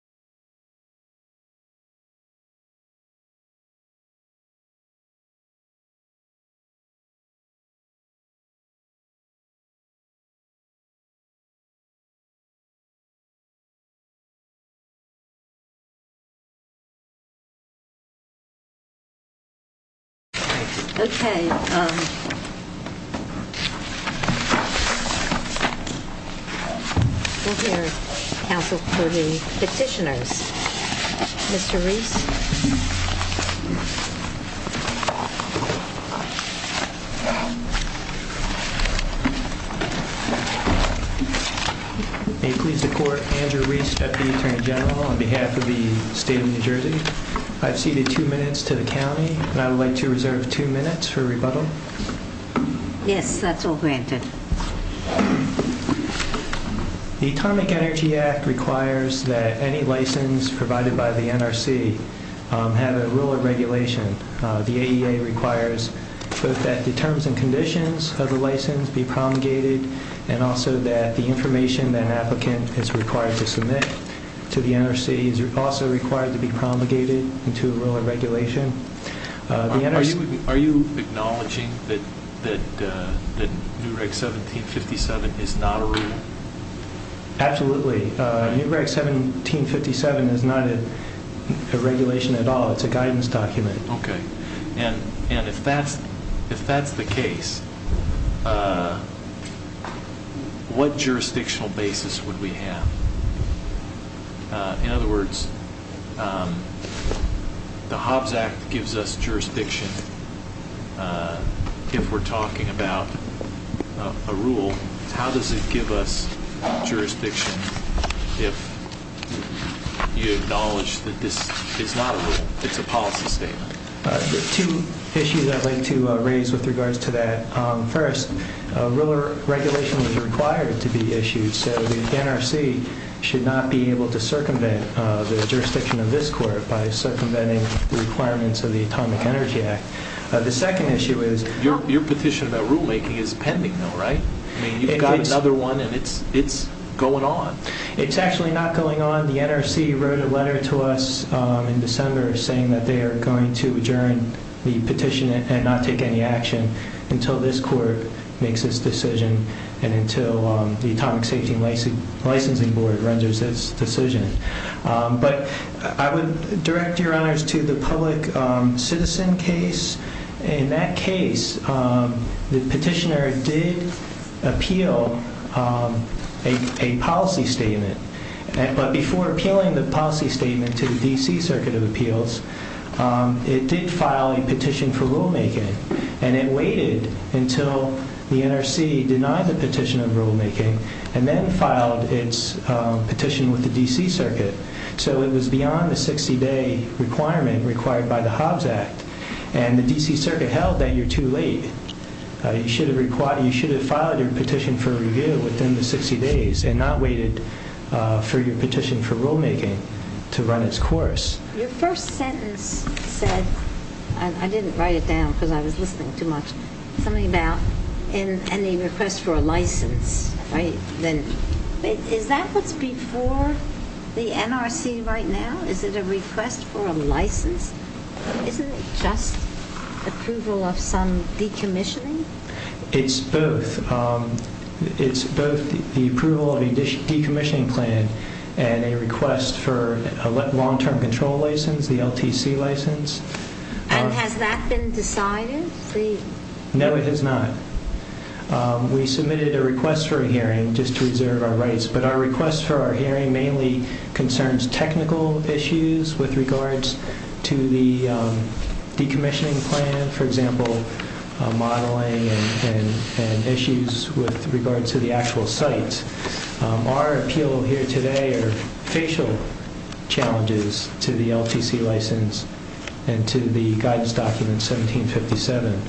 Final Results Mr. Rees It pleases the court, Andrew Rees, Deputy Attorney General, on behalf of the State of New Jersey. I've ceded two minutes to the county and I would like to reserve two minutes for rebuttal. Yes, that's all granted. The Atomic Energy Act requires that any license provided by the NRC have a rule of regulation. The AEA requires both that the terms and conditions of the license be promulgated and also that the information that an applicant is required to submit to the NRC is also required to be promulgated into a rule of regulation. Are you acknowledging that New Reg 1757 is not a rule? Absolutely. New Reg 1757 is not a regulation at all. It's a guidance document. Okay. And if that's the case, what jurisdictional basis would we have? In other words, the Hobbs Act gives us jurisdiction if we're talking about a rule. How does it give us jurisdiction if you acknowledge that this is not a rule, it's a policy statement? There are two issues I'd like to raise with regards to that. First, rule of regulation is required to be issued, so the NRC should not be able to circumvent the jurisdiction of this court by circumventing the requirements of the Atomic Energy Act. Your petition about rulemaking is pending, though, right? You've got another one and it's going on. It's actually not going on. The NRC wrote a letter to us in December saying that they are going to adjourn the petition and not take any action until this court makes its decision and until the Atomic Safety and Licensing Board renders its decision. But I would direct your honors to the public citizen case. In that case, the petitioner did appeal a policy statement, but before appealing the policy statement to the D.C. Circuit of Appeals, it did file a petition for rulemaking, and it waited until the NRC denied the petition of rulemaking and then filed its petition with the D.C. Circuit. So it was beyond the 60-day requirement required by the Hobbs Act, and the D.C. Circuit held that you're too late. You should have filed your petition for review within the 60 days and not waited for your petition for rulemaking to run its course. Your first sentence said, I didn't write it down because I was listening too much, something about any request for a license. Is that what's before the NRC right now? Is it a request for a license? Isn't it just approval of some decommissioning? It's both. It's both the approval of a decommissioning plan and a request for a long-term control license, the LTC license. And has that been decided? No, it has not. We submitted a request for a hearing just to reserve our rights, but our request for our hearing mainly concerns technical issues with regards to the decommissioning plan, for example, modeling and issues with regards to the actual sites. Our appeal here today are facial challenges to the LTC license and to the guidance document 1757.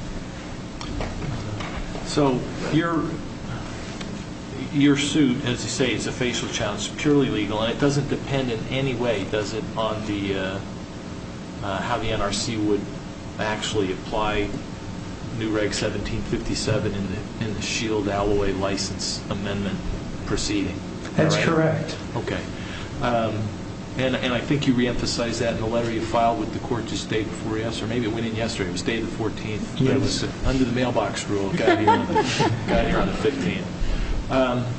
So your suit, as you say, is a facial challenge. It's purely legal, and it doesn't depend in any way, does it, on how the NRC would actually apply new Reg 1757 in the Shield Alloy License Amendment proceeding? That's correct. Okay. And I think you reemphasized that in the letter you filed with the court just the day before yesterday, or maybe it went in yesterday. It was the day of the 14th, but it was under the mailbox rule. It got here on the 15th.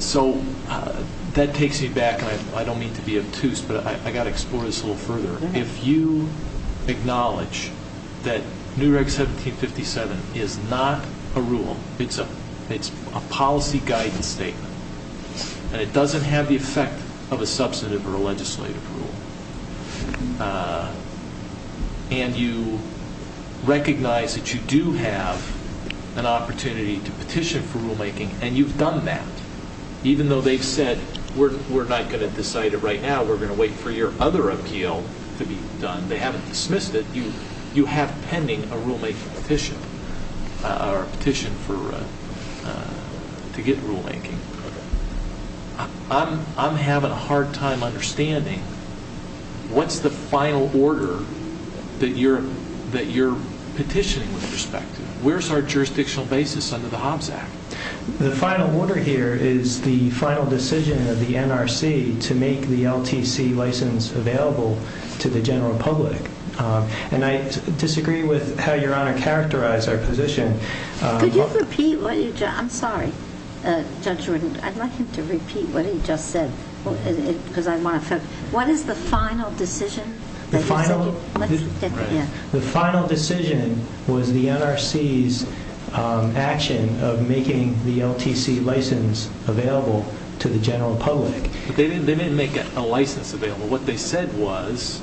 So that takes me back, and I don't mean to be obtuse, but I've got to explore this a little further. If you acknowledge that new Reg 1757 is not a rule, it's a policy guidance statement, and it doesn't have the effect of a substantive or a legislative rule, and you recognize that you do have an opportunity to petition for rulemaking, and you've done that, even though they've said, we're not going to decide it right now, we're going to wait for your other appeal to be done. They haven't dismissed it. You have pending a rulemaking petition or a petition to get rulemaking. I'm having a hard time understanding what's the final order that you're petitioning with respect to. Where's our jurisdictional basis under the Hobbs Act? The final order here is the final decision of the NRC to make the LTC license available to the general public, and I disagree with how Your Honor characterized our position. Could you repeat what you just said? I'm sorry, Judge Rudin. I'd like him to repeat what he just said because I want to focus. What is the final decision? The final decision was the NRC's action of making the LTC license available to the general public. They didn't make a license available. What they said was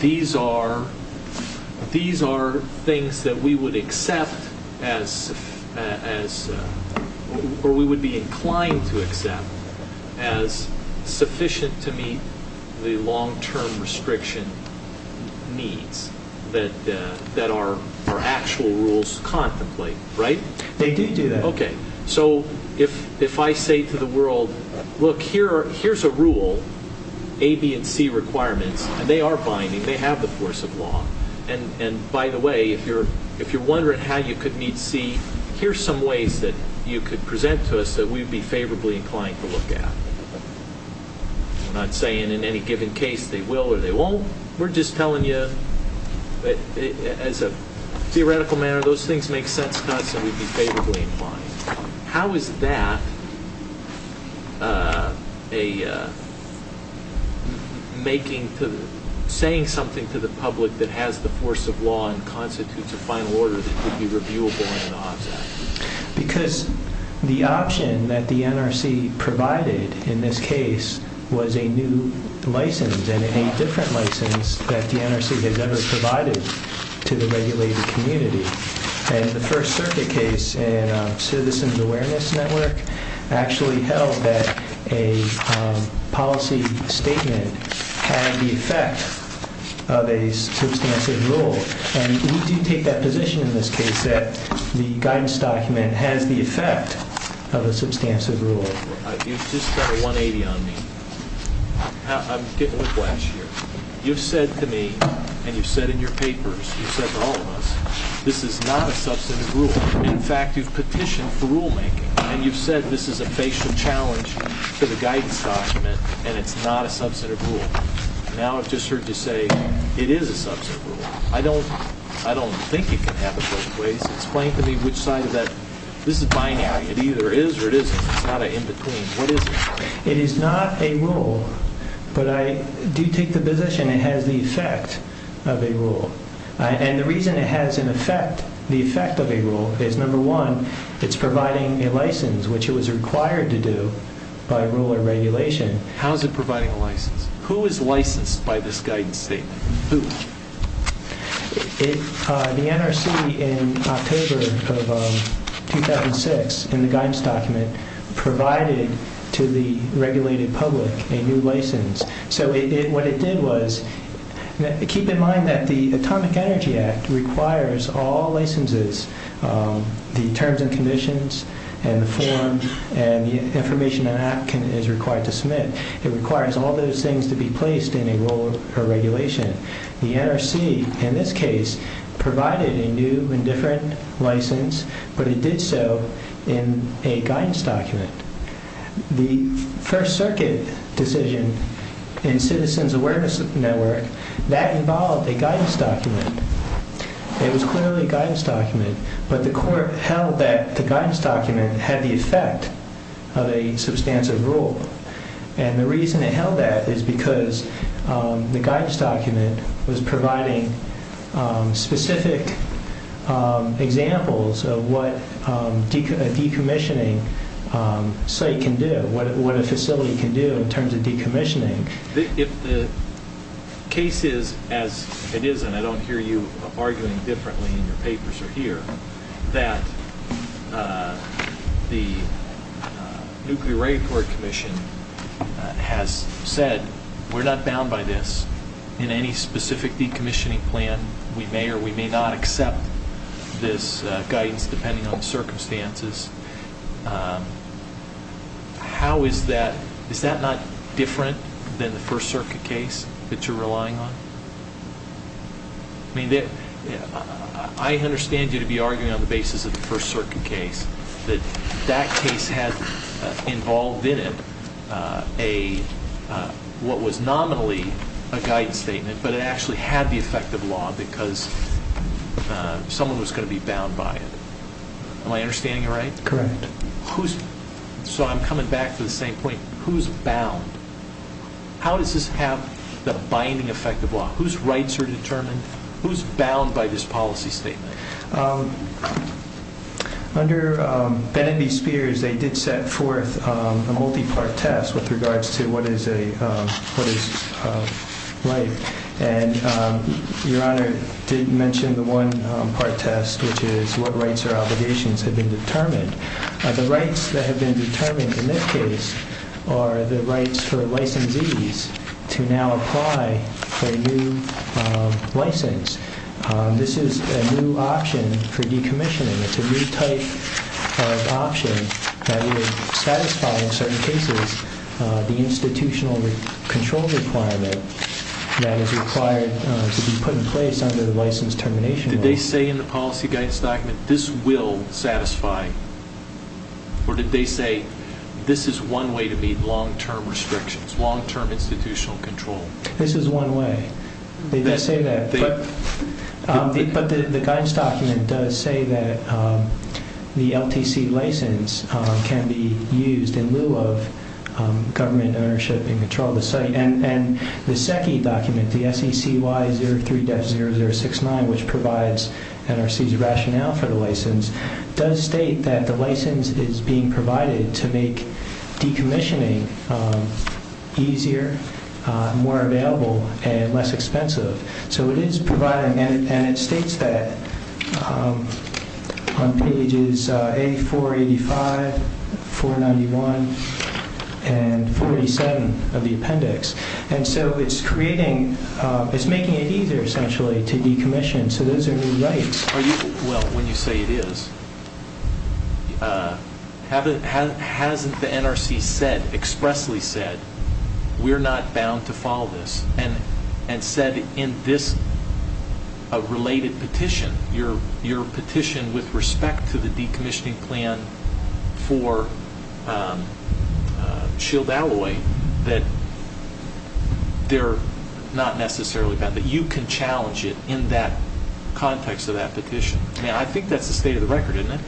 these are things that we would accept or we would be inclined to accept as sufficient to meet the long-term restriction needs that our actual rules contemplate, right? They did do that. Okay. So if I say to the world, look, here's a rule, A, B, and C requirements, and they are binding. They have the force of law. And, by the way, if you're wondering how you could meet C, here's some ways that you could present to us that we'd be favorably inclined to look at. We're not saying in any given case they will or they won't. We're just telling you that, as a theoretical matter, those things make sense to us and we'd be favorably inclined. How is that saying something to the public that has the force of law and constitutes a final order that could be reviewable under the OBS Act? Because the option that the NRC provided in this case was a new license and a different license that the NRC has ever provided to the regulated community. And the First Circuit case in Citizens Awareness Network actually held that a policy statement had the effect of a substantive rule. And we do take that position in this case that the guidance document has the effect of a substantive rule. You've just got a 180 on me. I'm getting a whiplash here. You've said to me and you've said in your papers, you've said to all of us, this is not a substantive rule. In fact, you've petitioned for rulemaking and you've said this is a facial challenge to the guidance document and it's not a substantive rule. Now I've just heard you say it is a substantive rule. I don't think you can have it both ways. Explain to me which side of that. This is binary. It either is or it isn't. It's not an in-between. What is it? It is not a rule, but I do take the position it has the effect of a rule. And the reason it has the effect of a rule is, number one, it's providing a license, which it was required to do by rule or regulation. How is it providing a license? Who is licensed by this guidance statement? Who? The NRC in October of 2006, in the guidance document, provided to the regulated public a new license. So what it did was, keep in mind that the Atomic Energy Act requires all licenses, the terms and conditions and the form and the information an applicant is required to submit. It requires all those things to be placed in a rule or regulation. The NRC, in this case, provided a new and different license, but it did so in a guidance document. The First Circuit decision in Citizens Awareness Network, that involved a guidance document. It was clearly a guidance document, but the court held that the guidance document had the effect of a substantive rule. And the reason it held that is because the guidance document was providing specific examples of what a decommissioning site can do, what a facility can do in terms of decommissioning. If the case is, as it is, and I don't hear you arguing differently in your papers or here, that the Nuclear Regulatory Commission has said, we're not bound by this in any specific decommissioning plan, we may or we may not accept this guidance depending on the circumstances, how is that, is that not different than the First Circuit case that you're relying on? I mean, I understand you to be arguing on the basis of the First Circuit case, that that case had involved in it a, what was nominally a guidance statement, but it actually had the effect of law because someone was going to be bound by it. Am I understanding you right? Correct. Who's, so I'm coming back to the same point, who's bound? How does this have the binding effect of law? Whose rights are determined? Who's bound by this policy statement? Under Bennett v. Spears, they did set forth a multi-part test with regards to what is a, what is a right. And Your Honor did mention the one-part test, which is what rights or obligations have been determined. The rights that have been determined in this case are the rights for licensees to now apply for a new license. This is a new option for decommissioning. It's a new type of option that would satisfy, in certain cases, the institutional control requirement that is required to be put in place under the license termination law. Did they say in the policy guidance document this will satisfy, or did they say this is one way to meet long-term restrictions, long-term institutional control? This is one way. They did say that, but the guidance document does say that the LTC license can be used in lieu of government ownership in control of the site. And the SECI document, the SECY 03-0069, which provides NRC's rationale for the license, does state that the license is being provided to make decommissioning easier, more available, and less expensive. So it is providing, and it states that on pages A485, 491, and 487 of the appendix. And so it's creating, it's making it easier, essentially, to decommission. So those are new rights. Well, when you say it is, hasn't the NRC said, expressly said, we're not bound to follow this, and said in this related petition, your petition with respect to the decommissioning plan for Shield Alloy, that they're not necessarily bound, that you can challenge it in that context of that petition? I mean, I think that's the state of the record, isn't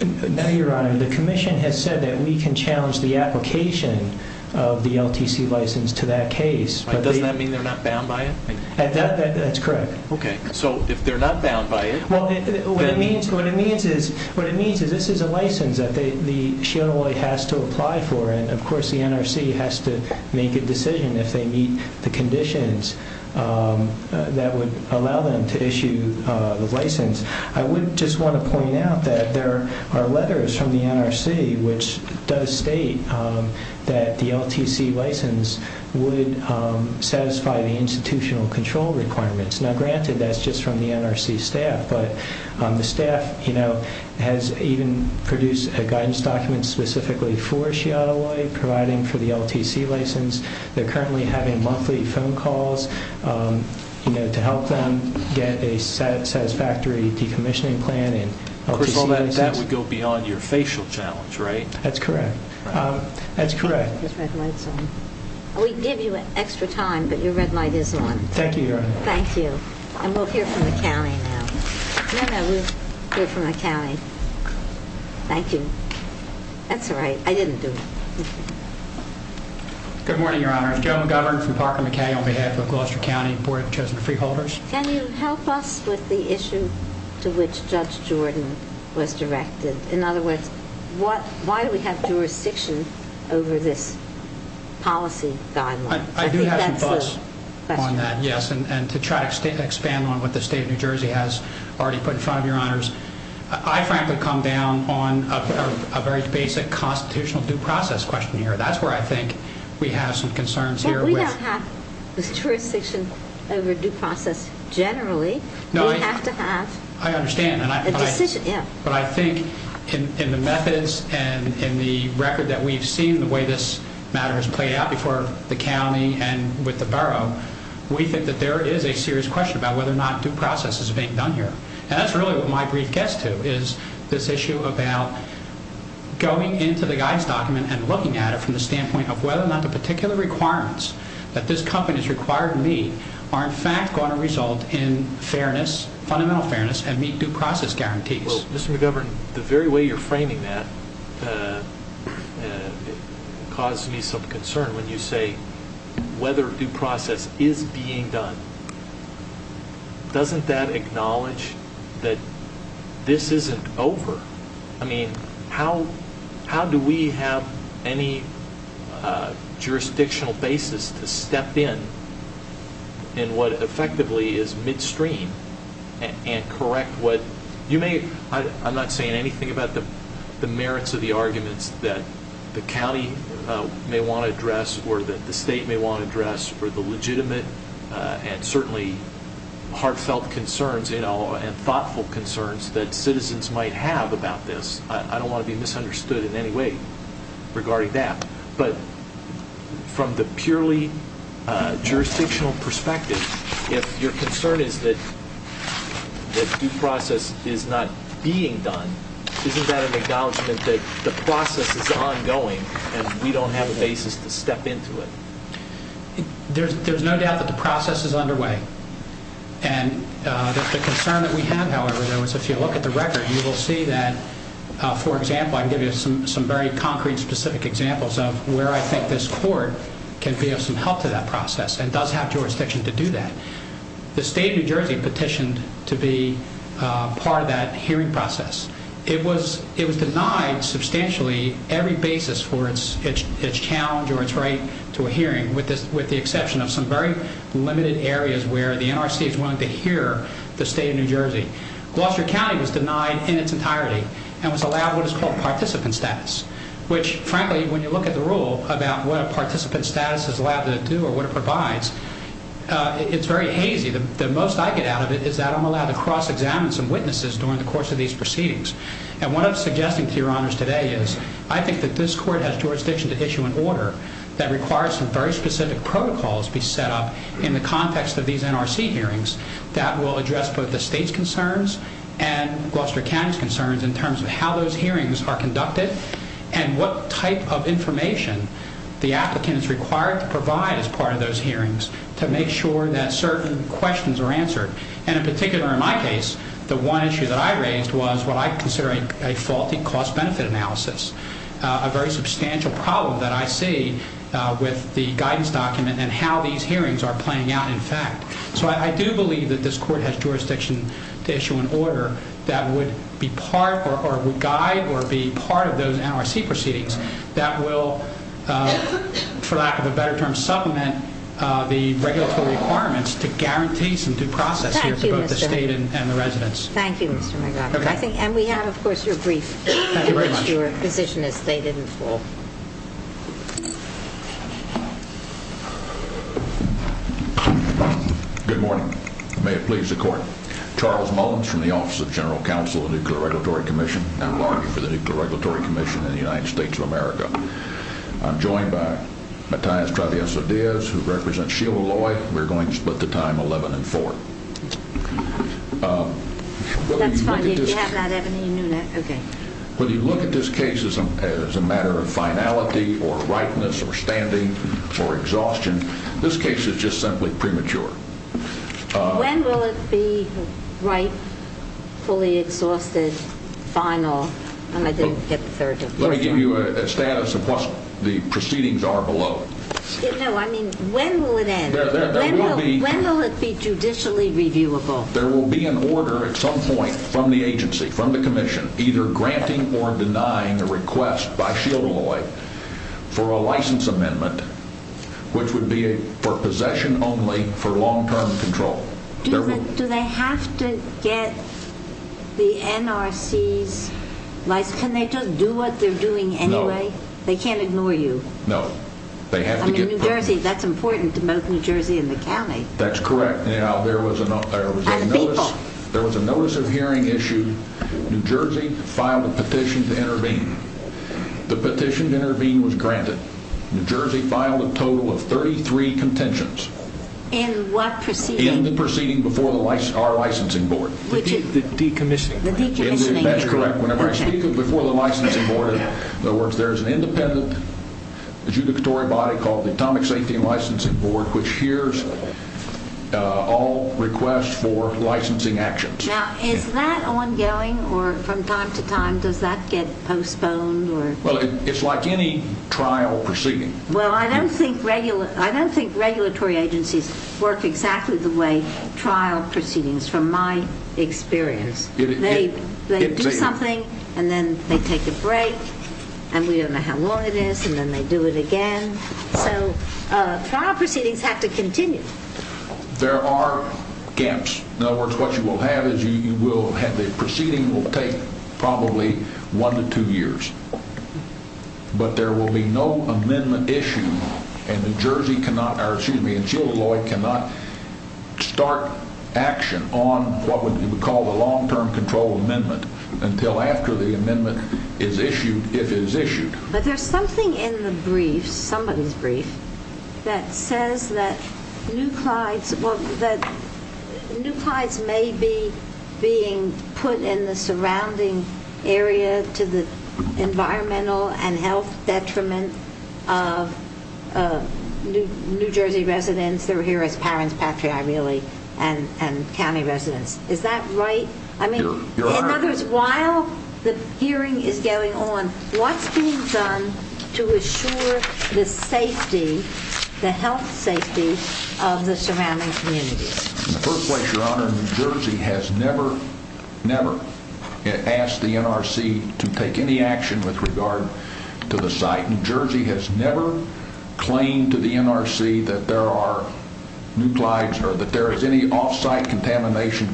it? No, Your Honor. The commission has said that we can challenge the application of the LTC license to that case. But doesn't that mean they're not bound by it? That's correct. Okay. So if they're not bound by it... Well, what it means is this is a license that the Shield Alloy has to apply for, and, of course, the NRC has to make a decision if they meet the conditions that would allow them to issue the license. I would just want to point out that there are letters from the NRC which does state that the LTC license would satisfy the institutional control requirements. Now, granted, that's just from the NRC staff, but the staff has even produced a guidance document specifically for Shield Alloy providing for the LTC license. They're currently having monthly phone calls to help them get a satisfactory decommissioning plan and LTC license. Of course, all that would go beyond your facial challenge, right? That's correct. That's correct. We can give you extra time, but your red light is on. Thank you, Your Honor. Thank you. And we'll hear from the county now. No, no, we'll hear from the county. Thank you. That's all right. I didn't do it. Good morning, Your Honor. Joe McGovern from Parker McKay on behalf of Gloucester County Board of Chosen Freeholders. Can you help us with the issue to which Judge Jordan was directed? In other words, why do we have jurisdiction over this policy guideline? I do have some thoughts on that, yes, and to try to expand on what the State of New Jersey has already put in front of your honors. I frankly come down on a very basic constitutional due process question here. That's where I think we have some concerns here. We don't have jurisdiction over due process generally. We have to have a decision. But I think in the methods and in the record that we've seen, the way this matter has played out before the county and with the borough, we think that there is a serious question about whether or not due process is being done here. And that's really what my brief gets to is this issue about going into the guides document and looking at it from the standpoint of whether or not the particular requirements that this company is required to meet are in fact going to result in fairness, fundamental fairness, and meet due process guarantees. Well, Mr. McGovern, the very way you're framing that causes me some concern when you say whether due process is being done. Doesn't that acknowledge that this isn't over? I mean, how do we have any jurisdictional basis to step in in what effectively is midstream and correct what? I'm not saying anything about the merits of the arguments that the county may want to address or that the state may want to address or the legitimate and certainly heartfelt concerns and thoughtful concerns that citizens might have about this. I don't want to be misunderstood in any way regarding that. But from the purely jurisdictional perspective, if your concern is that due process is not being done, isn't that an acknowledgment that the process is ongoing and we don't have a basis to step into it? There's no doubt that the process is underway. And the concern that we have, however, is if you look at the record, you will see that, for example, I can give you some very concrete, specific examples of where I think this court can be of some help to that process and does have jurisdiction to do that. The state of New Jersey petitioned to be part of that hearing process. It was denied substantially every basis for its challenge or its right to a hearing, with the exception of some very limited areas where the NRC is willing to hear the state of New Jersey. Gloucester County was denied in its entirety and was allowed what is called participant status, which, frankly, when you look at the rule about what a participant status is allowed to do or what it provides, it's very hazy. The most I get out of it is that I'm allowed to cross-examine some witnesses during the course of these proceedings. And what I'm suggesting to your honors today is I think that this court has jurisdiction to issue an order that requires some very specific protocols be set up in the context of these NRC hearings that will address both the state's concerns and Gloucester County's concerns in terms of how those hearings are conducted and what type of information the applicant is required to provide as part of those hearings to make sure that certain questions are answered. And in particular, in my case, the one issue that I raised was what I consider a faulty cost-benefit analysis, a very substantial problem that I see with the guidance document and how these hearings are playing out in fact. So I do believe that this court has jurisdiction to issue an order that would be part or would guide or be part of those NRC proceedings that will, for lack of a better term, supplement the regulatory requirements to guarantee some due process here to both the state and the residents. Thank you, Mr. McGovern. And we have, of course, your brief in which your position is stated and full. Good morning. May it please the Court. Charles Mullins from the Office of General Counsel of the Nuclear Regulatory Commission, now largely for the Nuclear Regulatory Commission in the United States of America. I'm joined by Matthias Travieso-Diaz, who represents Sheila Loy. We're going to split the time 11 and 4. That's fine. If you have that, Ebony, you know that. Okay. When you look at this case as a matter of finality or rightness or standing or exhaustion, this case is just simply premature. When will it be right, fully exhausted, final? Let me give you a status of what the proceedings are below. No, I mean, when will it end? When will it be judicially reviewable? There will be an order at some point from the agency, from the commission, either granting or denying a request by Sheila Loy for a license amendment, which would be for possession only for long-term control. Do they have to get the NRC's license? Can they just do what they're doing anyway? No. They can't ignore you? No. I mean, New Jersey, that's important to both New Jersey and the county. That's correct. And the people. There was a notice of hearing issue. New Jersey filed a petition to intervene. The petition to intervene was granted. New Jersey filed a total of 33 contentions. In what proceeding? In the proceeding before our licensing board. The decommissioning. The decommissioning. That's correct. Whenever I speak before the licensing board, in other words there's an independent adjudicatory body called the Atomic Safety Licensing Board, which hears all requests for licensing actions. Now, is that ongoing or from time to time does that get postponed? Well, it's like any trial proceeding. Well, I don't think regulatory agencies work exactly the way trial proceedings, from my experience. They do something, and then they take a break, and we don't know how long it is, and then they do it again. So trial proceedings have to continue. There are gaps. In other words, what you will have is you will have a proceeding that will take probably one to two years, but there will be no amendment issued, and the Jersey cannot, or excuse me, and Shields-Lloyd cannot start action on what we would call the long-term control amendment until after the amendment is issued, if it is issued. But there's something in the brief, somebody's brief, that says that new Clydes may be being put in the surrounding area to the environmental and health detriment of New Jersey residents. They're here as parents, patriae really, and county residents. Is that right? I mean, in other words, while the hearing is going on, what's being done to assure the safety, the health safety of the surrounding communities? In the first place, Your Honor, New Jersey has never, never asked the NRC to take any action with regard to the site. New Jersey has never claimed to the NRC that there are new Clydes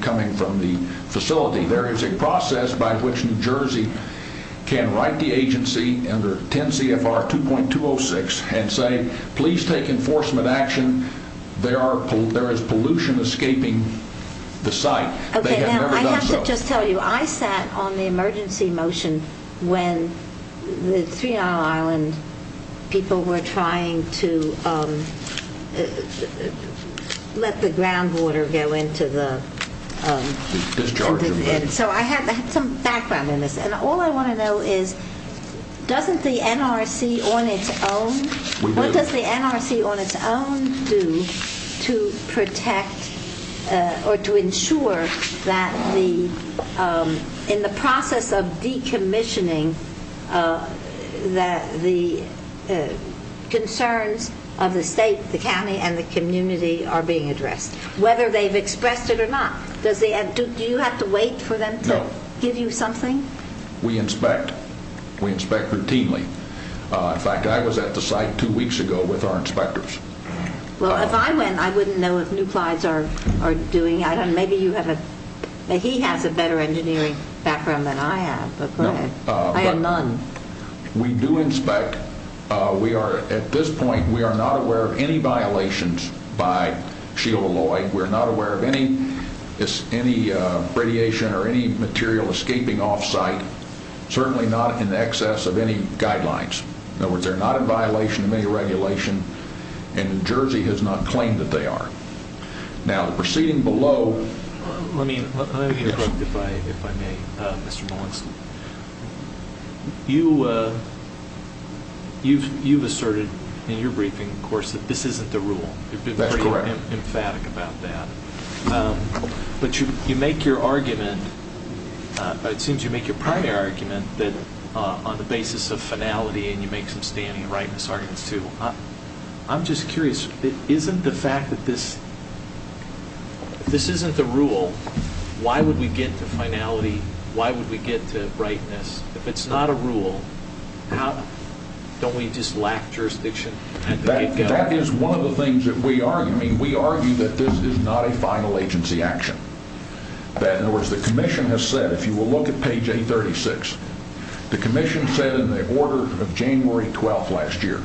coming from the facility. There is a process by which New Jersey can write the agency under 10 CFR 2.206 and say please take enforcement action. There is pollution escaping the site. They have never done so. Okay, now I have to just tell you, I sat on the emergency motion when the Three Islands people were trying to let the groundwater go into the discharge. So I have some background on this. And all I want to know is doesn't the NRC on its own, what does the NRC on its own do to protect or to ensure that the, in the process of decommissioning, that the concerns of the state, the county, and the community are being addressed, whether they've expressed it or not? Do you have to wait for them to give you something? No. We inspect. We inspect routinely. In fact, I was at the site two weeks ago with our inspectors. Well, if I went, I wouldn't know if new Clydes are doing it. He has a better engineering background than I have, but go ahead. I have none. We do inspect. We are, at this point, we are not aware of any violations by Shield Alloy. We're not aware of any radiation or any material escaping off site, certainly not in excess of any guidelines. In other words, they're not in violation of any regulation, and New Jersey has not claimed that they are. Now, proceeding below. Let me interrupt, if I may, Mr. Molenski. You've asserted in your briefing, of course, that this isn't the rule. That's correct. You've been pretty emphatic about that. But you make your argument, it seems you make your primary argument, that on the basis of finality, and you make some standing and rightness arguments, too. I'm just curious. Isn't the fact that this isn't the rule, why would we get to finality? Why would we get to rightness? If it's not a rule, don't we just lack jurisdiction at the get-go? That is one of the things that we argue. I mean, we argue that this is not a final agency action. In other words, the commission has said, if you will look at page 836, the commission said in the order of January 12th last year,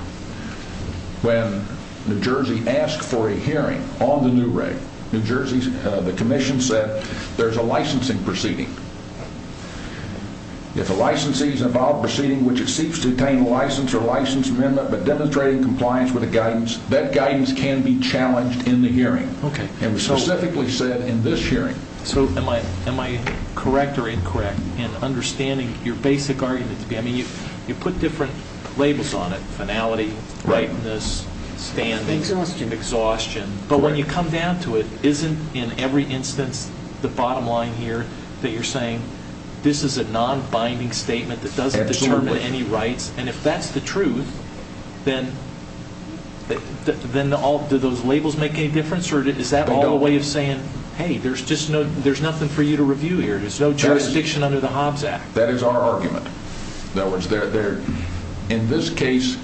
when New Jersey asked for a hearing on the new reg, the commission said there's a licensing proceeding. If a licensee is involved in a proceeding which exceeds to obtain a license or license amendment but demonstrates compliance with the guidance, that guidance can be challenged in the hearing. It was specifically said in this hearing. So am I correct or incorrect in understanding your basic argument? I mean, you put different labels on it, finality, rightness, standing. Exhaustion. Exhaustion. But when you come down to it, isn't in every instance the bottom line here that you're saying this is a non-binding statement that doesn't determine any rights? And if that's the truth, then do those labels make any difference? Or is that all a way of saying, hey, there's nothing for you to review here. There's no jurisdiction under the Hobbs Act. That is our argument. In other words, in this case,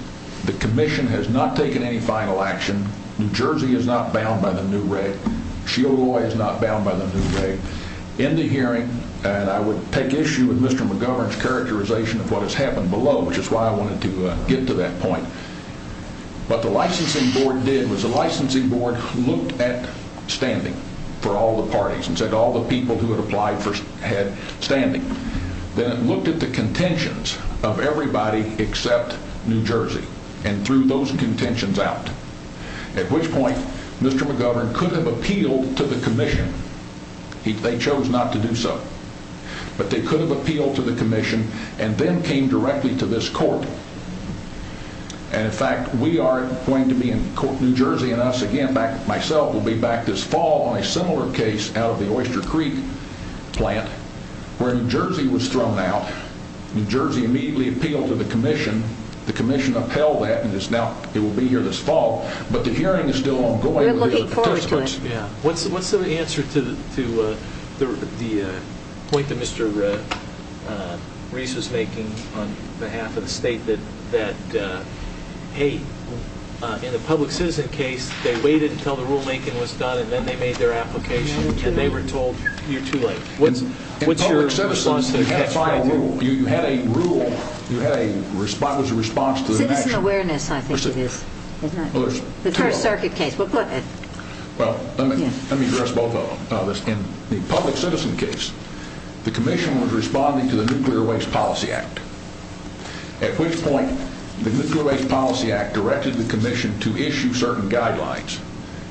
the commission has not taken any final action. New Jersey is not bound by the new reg. Shiogoi is not bound by the new reg. In the hearing, and I would take issue with Mr. McGovern's characterization of what has happened below, which is why I wanted to get to that point. What the licensing board did was the licensing board looked at standing for all the parties and said all the people who had applied had standing. Then it looked at the contentions of everybody except New Jersey and threw those contentions out. At which point, Mr. McGovern could have appealed to the commission. They chose not to do so. But they could have appealed to the commission and then came directly to this court. In fact, we are going to be in New Jersey, and myself will be back this fall on a similar case out of the Oyster Creek plant where New Jersey was thrown out. New Jersey immediately appealed to the commission. The commission upheld that, and it will be here this fall. But the hearing is still ongoing. We're looking forward to it. What's the answer to the point that Mr. Reese was making on behalf of the state that in the public citizen case they waited until the rulemaking was done and then they made their application and they were told you're too late? What's your response to that? You had a rule. It was a response to the action. Citizen awareness, I think it is. The First Circuit case. Let me address both of them. In the public citizen case, the commission was responding to the Nuclear Waste Policy Act, at which point the Nuclear Waste Policy Act directed the commission to issue certain guidelines.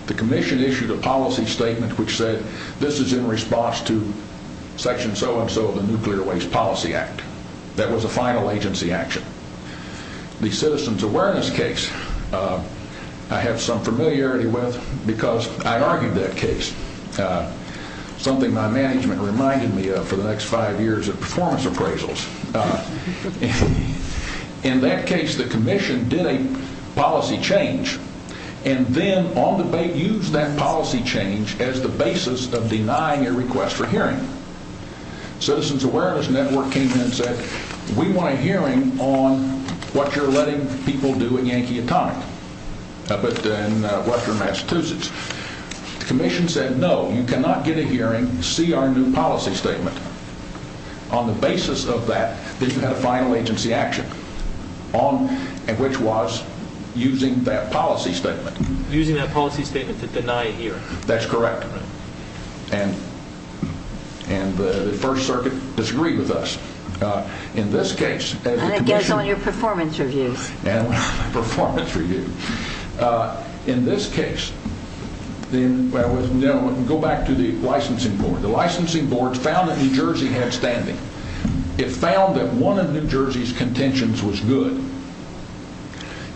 The commission issued a policy statement which said, this is in response to section so-and-so of the Nuclear Waste Policy Act. That was a final agency action. The citizen's awareness case I have some familiarity with because I argued that case, something my management reminded me of for the next five years of performance appraisals. In that case, the commission did a policy change and then on debate used that policy change as the basis of denying a request for hearing. Citizens Awareness Network came in and said, we want a hearing on what you're letting people do at Yankee Atomic, up at Western Massachusetts. The commission said, no, you cannot get a hearing, see our new policy statement. On the basis of that, then you had a final agency action, which was using that policy statement. Using that policy statement to deny a hearing. That's correct. And the First Circuit disagreed with us. In this case, And it gets on your performance reviews. Performance review. In this case, go back to the licensing board. The licensing board found that New Jersey had standing. It found that one of New Jersey's contentions was good.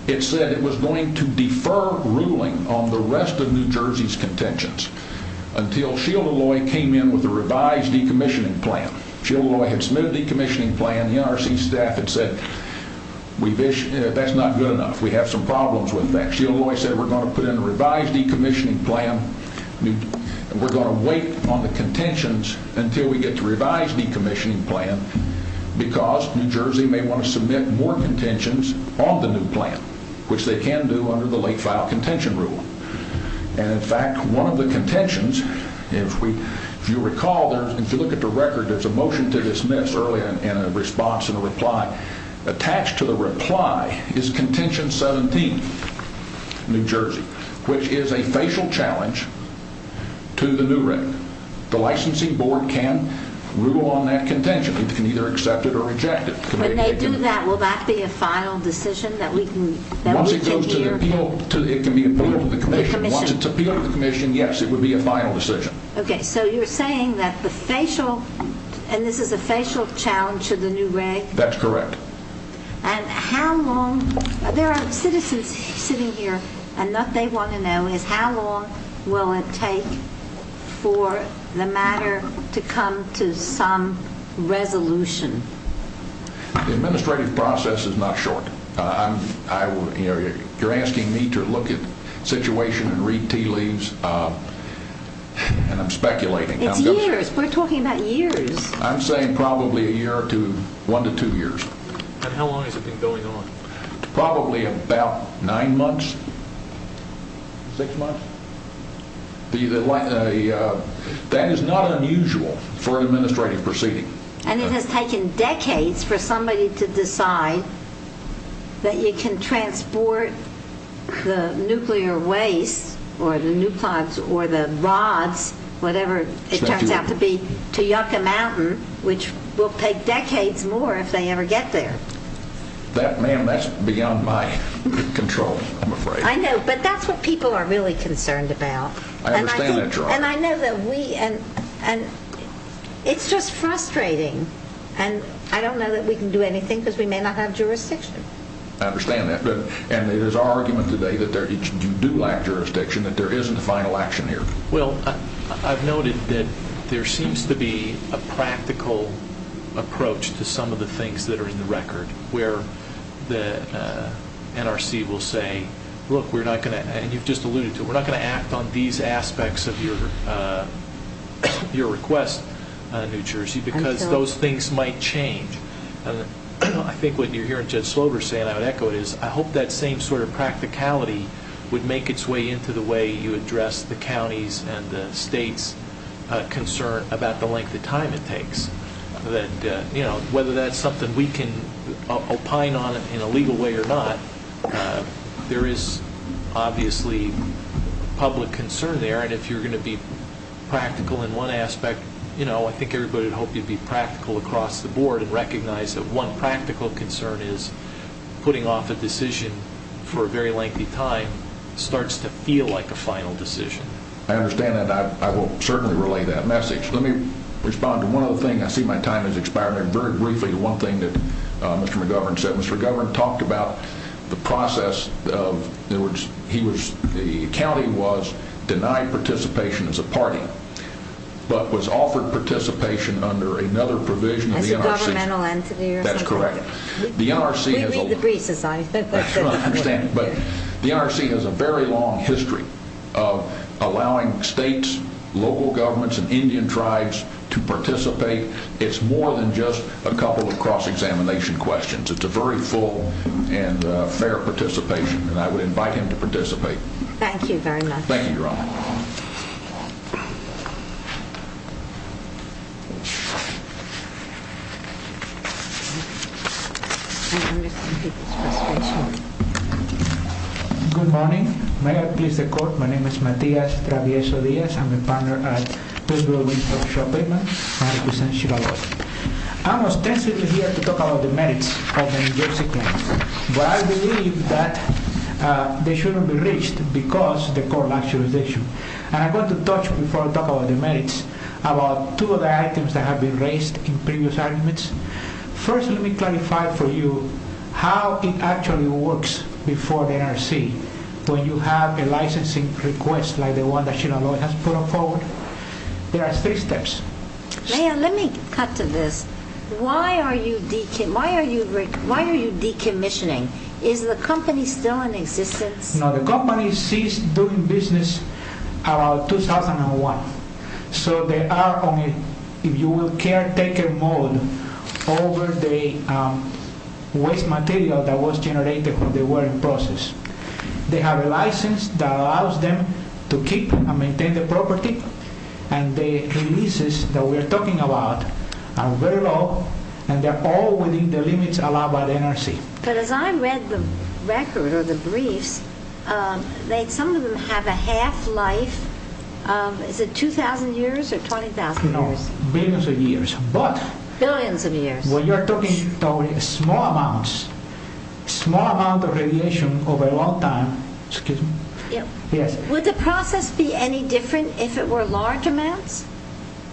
It said it was going to defer ruling on the rest of New Jersey's contentions until Sheila Loy came in with a revised decommissioning plan. Sheila Loy had submitted a decommissioning plan. The NRC staff had said, that's not good enough. We have some problems with that. Sheila Loy said, we're going to put in a revised decommissioning plan. We're going to wait on the contentions until we get the revised decommissioning plan because New Jersey may want to submit more contentions on the new plan, which they can do under the late-file contention rule. And in fact, one of the contentions, if you recall, if you look at the record, there's a motion to dismiss earlier and a response and a reply. Attached to the reply is contention 17, New Jersey, which is a facial challenge to the new written. The licensing board can rule on that contention. It can either accept it or reject it. When they do that, will that be a final decision that we can hear? Once it goes to the appeal, it can be appealed to the commission. Once it's appealed to the commission, yes, it would be a final decision. Okay, so you're saying that the facial, and this is a facial challenge to the new reg? That's correct. And how long, there are citizens sitting here, and what they want to know is how long will it take for the matter to come to some resolution? The administrative process is not short. You're asking me to look at the situation and read tea leaves, and I'm speculating. It's years. We're talking about years. I'm saying probably a year to one to two years. And how long has it been going on? Probably about nine months, six months. That is not unusual for an administrative proceeding. And it has taken decades for somebody to decide that you can transport the nuclear waste or the nuclides or the rods, whatever it turns out to be, to Yucca Mountain, which will take decades more if they ever get there. Ma'am, that's beyond my control, I'm afraid. I know, but that's what people are really concerned about. I understand that, Your Honor. And I know that we, and it's just frustrating, and I don't know that we can do anything because we may not have jurisdiction. I understand that. And it is our argument today that you do lack jurisdiction, that there isn't a final action here. Well, I've noted that there seems to be a practical approach to some of the things that are in the record, where the NRC will say, look, we're not going to, and you've just alluded to it, we're not going to act on these aspects of your request, New Jersey, because those things might change. I think what you're hearing Judge Slover say, and I would echo it, is I hope that same sort of practicality would make its way into the way you address the county's and the state's concern about the length of time it takes. Whether that's something we can opine on in a legal way or not, there is obviously public concern there, and if you're going to be practical in one aspect, I think everybody would hope you'd be practical across the board and recognize that one practical concern is putting off a decision for a very lengthy time starts to feel like a final decision. I understand that, and I will certainly relay that message. Let me respond to one other thing. I see my time has expired. Very briefly, one thing that Mr. McGovern said. Mr. McGovern talked about the process of, in other words, the county was denied participation as a party, but was offered participation under another provision of the NRC. As a governmental entity or something? That's correct. We read the briefs, as I understand it. But the NRC has a very long history of allowing states, local governments, and Indian tribes to participate. It's more than just a couple of cross-examination questions. It's a very full and fair participation, and I would invite him to participate. Thank you very much. Thank you, Your Honor. Good morning. May I please decode? My name is Matias Traviezo Diaz. I'm a partner at the Federal Reserve Shopping, and I represent Chitaloi. I'm ostensibly here to talk about the merits of the New Jersey claims, but I believe that they shouldn't be reached because of the core naturalization. And I'm going to touch, before I talk about the merits, about two of the items that have been raised in previous arguments. First, let me clarify for you how it actually works before the NRC, when you have a licensing request like the one that Chitaloi has put forward. There are three steps. Mayor, let me cut to this. Why are you decommissioning? Is the company still in existence? No, the company ceased doing business around 2001. So they are on a caretaker mode over the waste material that was generated when they were in process. They have a license that allows them to keep and maintain the property, and the leases that we are talking about are very low, and they're all within the limits allowed by the NRC. But as I read the record or the briefs, some of them have a half-life. Is it 2,000 years or 20,000 years? No, billions of years. Billions of years. When you're talking about small amounts, small amount of radiation over a long time, excuse me. Would the process be any different if it were large amounts?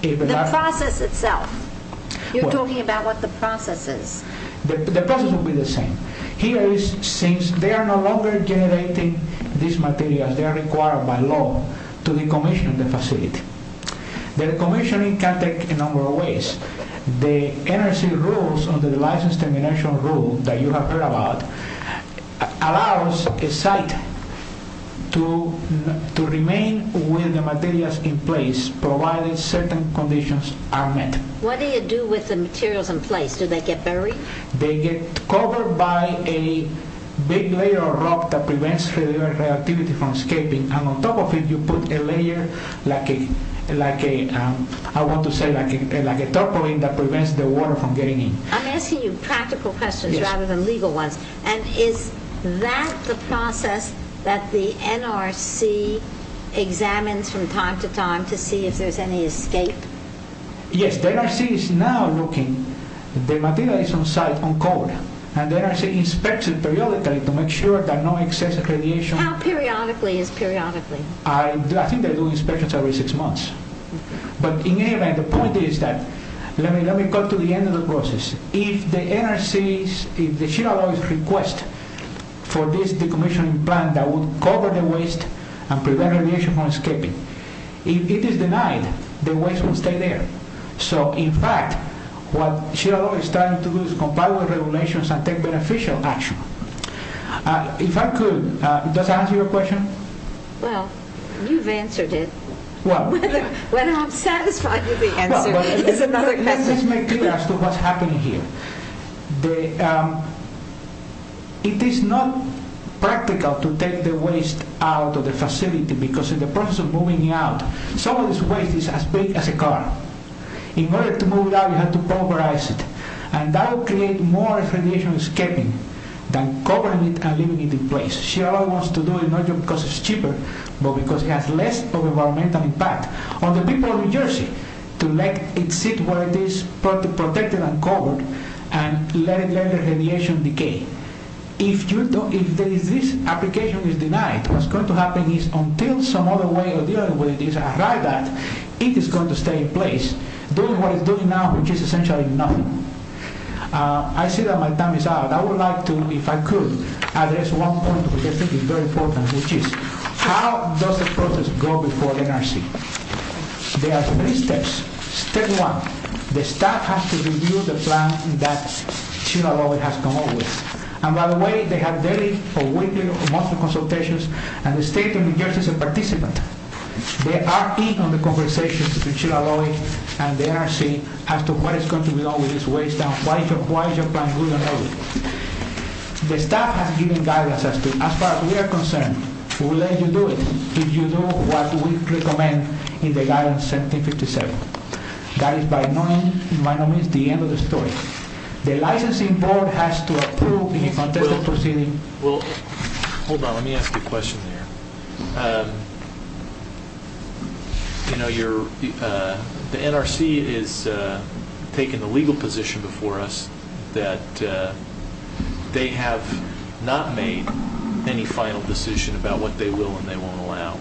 The process itself. You're talking about what the process is. The process would be the same. Here, since they are no longer generating these materials, they are required by law to decommission the facility. The decommissioning can take a number of ways. The NRC rules under the license termination rule that you have heard about allows a site to remain with the materials in place provided certain conditions are met. What do you do with the materials in place? Do they get buried? They get covered by a big layer of rock that prevents reactivity from escaping, and on top of it you put a layer like a, I want to say, like a toppling that prevents the water from getting in. I'm asking you practical questions rather than legal ones. And is that the process that the NRC examines from time to time to see if there's any escape? Yes. The NRC is now looking. The material is on site on COBRA, and the NRC inspects it periodically to make sure that no excess radiation How periodically is periodically? I think they're doing inspections every six months. But in any event, the point is that, let me cut to the end of the process. If the NRCs, if the sheet of law requests for this decommissioning plan that would cover the waste and prevent radiation from escaping, if it is denied, the waste will stay there. So, in fact, what sheet of law is trying to do is comply with regulations and take beneficial action. If I could, does that answer your question? Well, you've answered it. Whether I'm satisfied with the answer is another question. Let me just make clear as to what's happening here. It is not practical to take the waste out of the facility because in the process of moving it out, some of this waste is as big as a car. In order to move it out, you have to pulverize it. And that will create more radiation escaping than covering it and leaving it in place. Sheet of law wants to do it not just because it's cheaper, but because it has less of an environmental impact. On the people of New Jersey, to let it sit where it is protected and covered and let the radiation decay. If this application is denied, what's going to happen is until some other way of dealing with it is arrived at, it is going to stay in place. Doing what it's doing now, which is essentially nothing. I see that my time is out. I would like to, if I could, address one point which I think is very important, which is how does the process go before the NRC? There are three steps. Step one, the staff has to review the plan that Sheet of Law has come up with. And by the way, they have daily or weekly or monthly consultations. And the state of New Jersey is a participant. They are in on the conversations between Sheet of Law and the NRC as to what is going to be done with this waste and why is your plan good or no good. The staff has given guidance as far as we are concerned. We'll let you do it if you do what we recommend in the guidance 1757. That is by no means the end of the story. The licensing board has to approve the contested proceeding. Well, hold on, let me ask you a question here. You know, the NRC has taken the legal position before us that they have not made any final decision about what they will and they won't allow.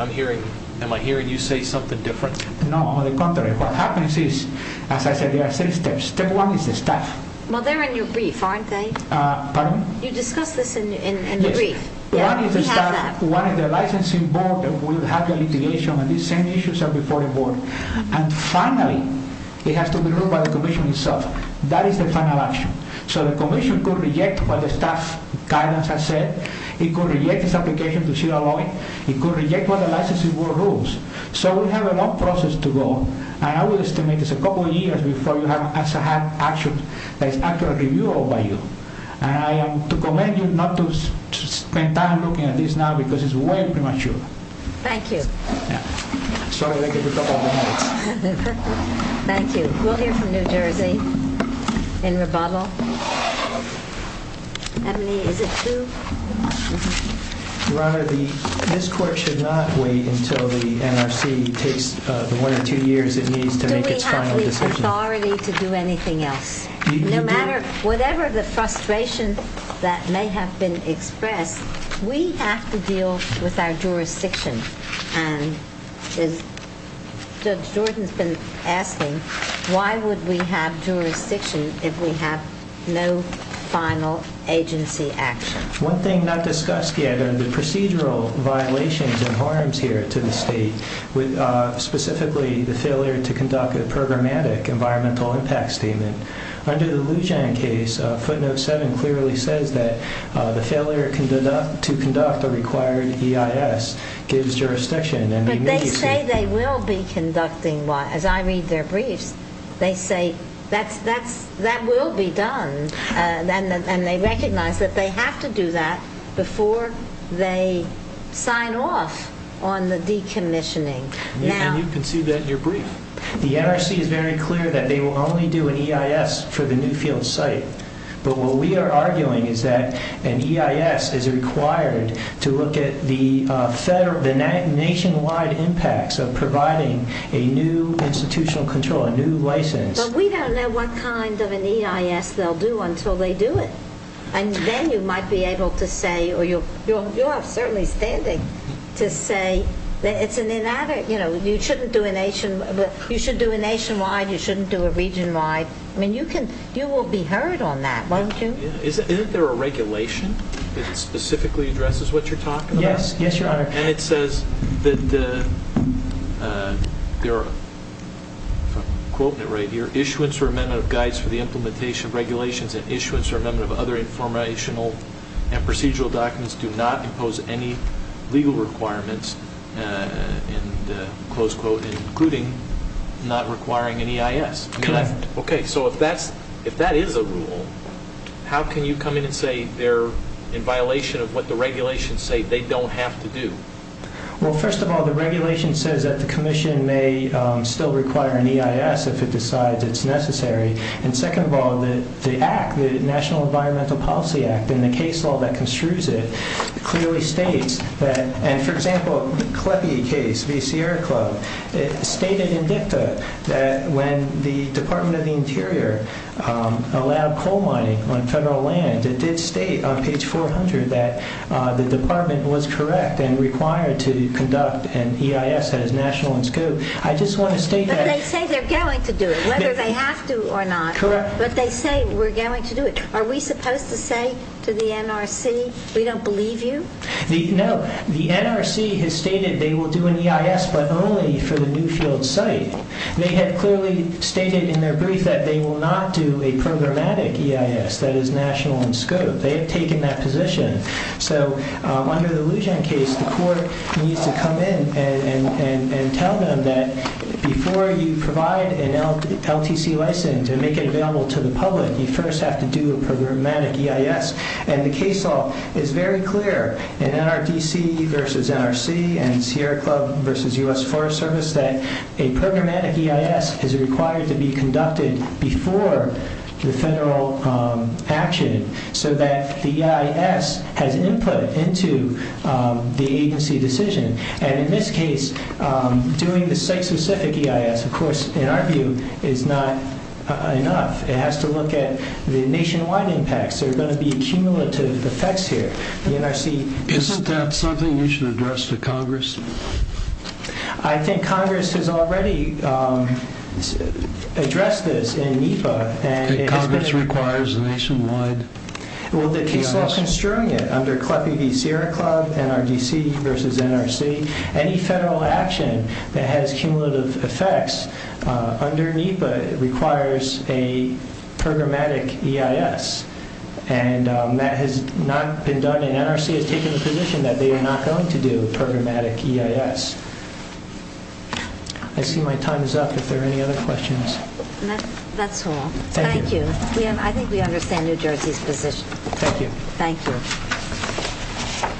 Am I hearing you say something different? No, on the contrary. What happens is, as I said, there are three steps. Step one is the staff. Well, they're in your brief, aren't they? Pardon me? You discussed this in the brief. One is the staff, one is the licensing board that will have the litigation. These same issues are before the board. And finally, it has to be ruled by the commission itself. That is the final action. So the commission could reject what the staff guidance has said. It could reject this application to Sheet of Law. It could reject what the licensing board rules. So we have a long process to go. And I will estimate it's a couple of years before you have an action that is actually reviewable by you. And I am to commend you not to spend time looking at this now because it's way premature. Thank you. Sorry to take a couple of minutes. Thank you. We'll hear from New Jersey in rebuttal. Emily, is it true? Your Honor, this court should not wait until the NRC takes the one or two years it needs to make its final decision. Do we have the authority to do anything else? No matter whatever the frustration that may have been expressed, we have to deal with our jurisdiction. Judge Jordan has been asking, why would we have jurisdiction if we have no final agency action? One thing not discussed yet are the procedural violations and harms here to the state, specifically the failure to conduct a programmatic environmental impact statement. Under the Lujan case, footnote 7 clearly says that the failure to conduct a required EIS gives jurisdiction. But they say they will be conducting one. As I read their briefs, they say that will be done. And they recognize that they have to do that before they sign off on the decommissioning. And you can see that in your brief. The NRC is very clear that they will only do an EIS for the Newfield site. But what we are arguing is that an EIS is required to look at the nationwide impacts of providing a new institutional control, a new license. But we don't know what kind of an EIS they'll do until they do it. And then you might be able to say, or you are certainly standing to say, you should do a nationwide, you shouldn't do a regionwide. I mean, you will be heard on that, won't you? Isn't there a regulation that specifically addresses what you're talking about? Yes, Your Honor. And it says that there are, if I'm quoting it right here, issuance or amendment of guides for the implementation of regulations and issuance or amendment of other informational and procedural documents do not impose any legal requirements, and close quote, including not requiring an EIS. Okay, so if that is a rule, how can you come in and say they're in violation of what the regulations say they don't have to do? Well, first of all, the regulation says that the commission may still require an EIS if it decides it's necessary. And second of all, the act, the National Environmental Policy Act, and the case law that construes it clearly states that, and for example, the CLEPI case v. Sierra Club, it stated in dicta that when the Department of the Interior allowed coal mining on federal land, it did state on page 400 that the department was correct and required to conduct an EIS as national in scope. I just want to state that. But they say they're going to do it, whether they have to or not. Correct. But they say we're going to do it. Are we supposed to say to the NRC, we don't believe you? No. The NRC has stated they will do an EIS, but only for the Newfield site. They have clearly stated in their brief that they will not do a programmatic EIS that is national in scope. They have taken that position. So under the Lujan case, the court needs to come in and tell them that before you provide an LTC license and make it available to the public, you first have to do a programmatic EIS. And the case law is very clear in NRDC versus NRC and Sierra Club versus U.S. Forest Service that a programmatic EIS is required to be conducted before the federal action so that the EIS has input into the agency decision. And in this case, doing the site-specific EIS, of course, in our view, is not enough. It has to look at the nationwide impacts. There are going to be cumulative effects here. Isn't that something you should address to Congress? I think Congress has already addressed this in NEPA. Congress requires a nationwide EIS? Well, the case law construing it under CLEPI v. Sierra Club, NRDC versus NRC, any federal action that has cumulative effects under NEPA requires a programmatic EIS. And that has not been done, and NRC has taken the position that they are not going to do a programmatic EIS. I see my time is up. Are there any other questions? That's all. Thank you. I think we understand New Jersey's position. Thank you. Thank you.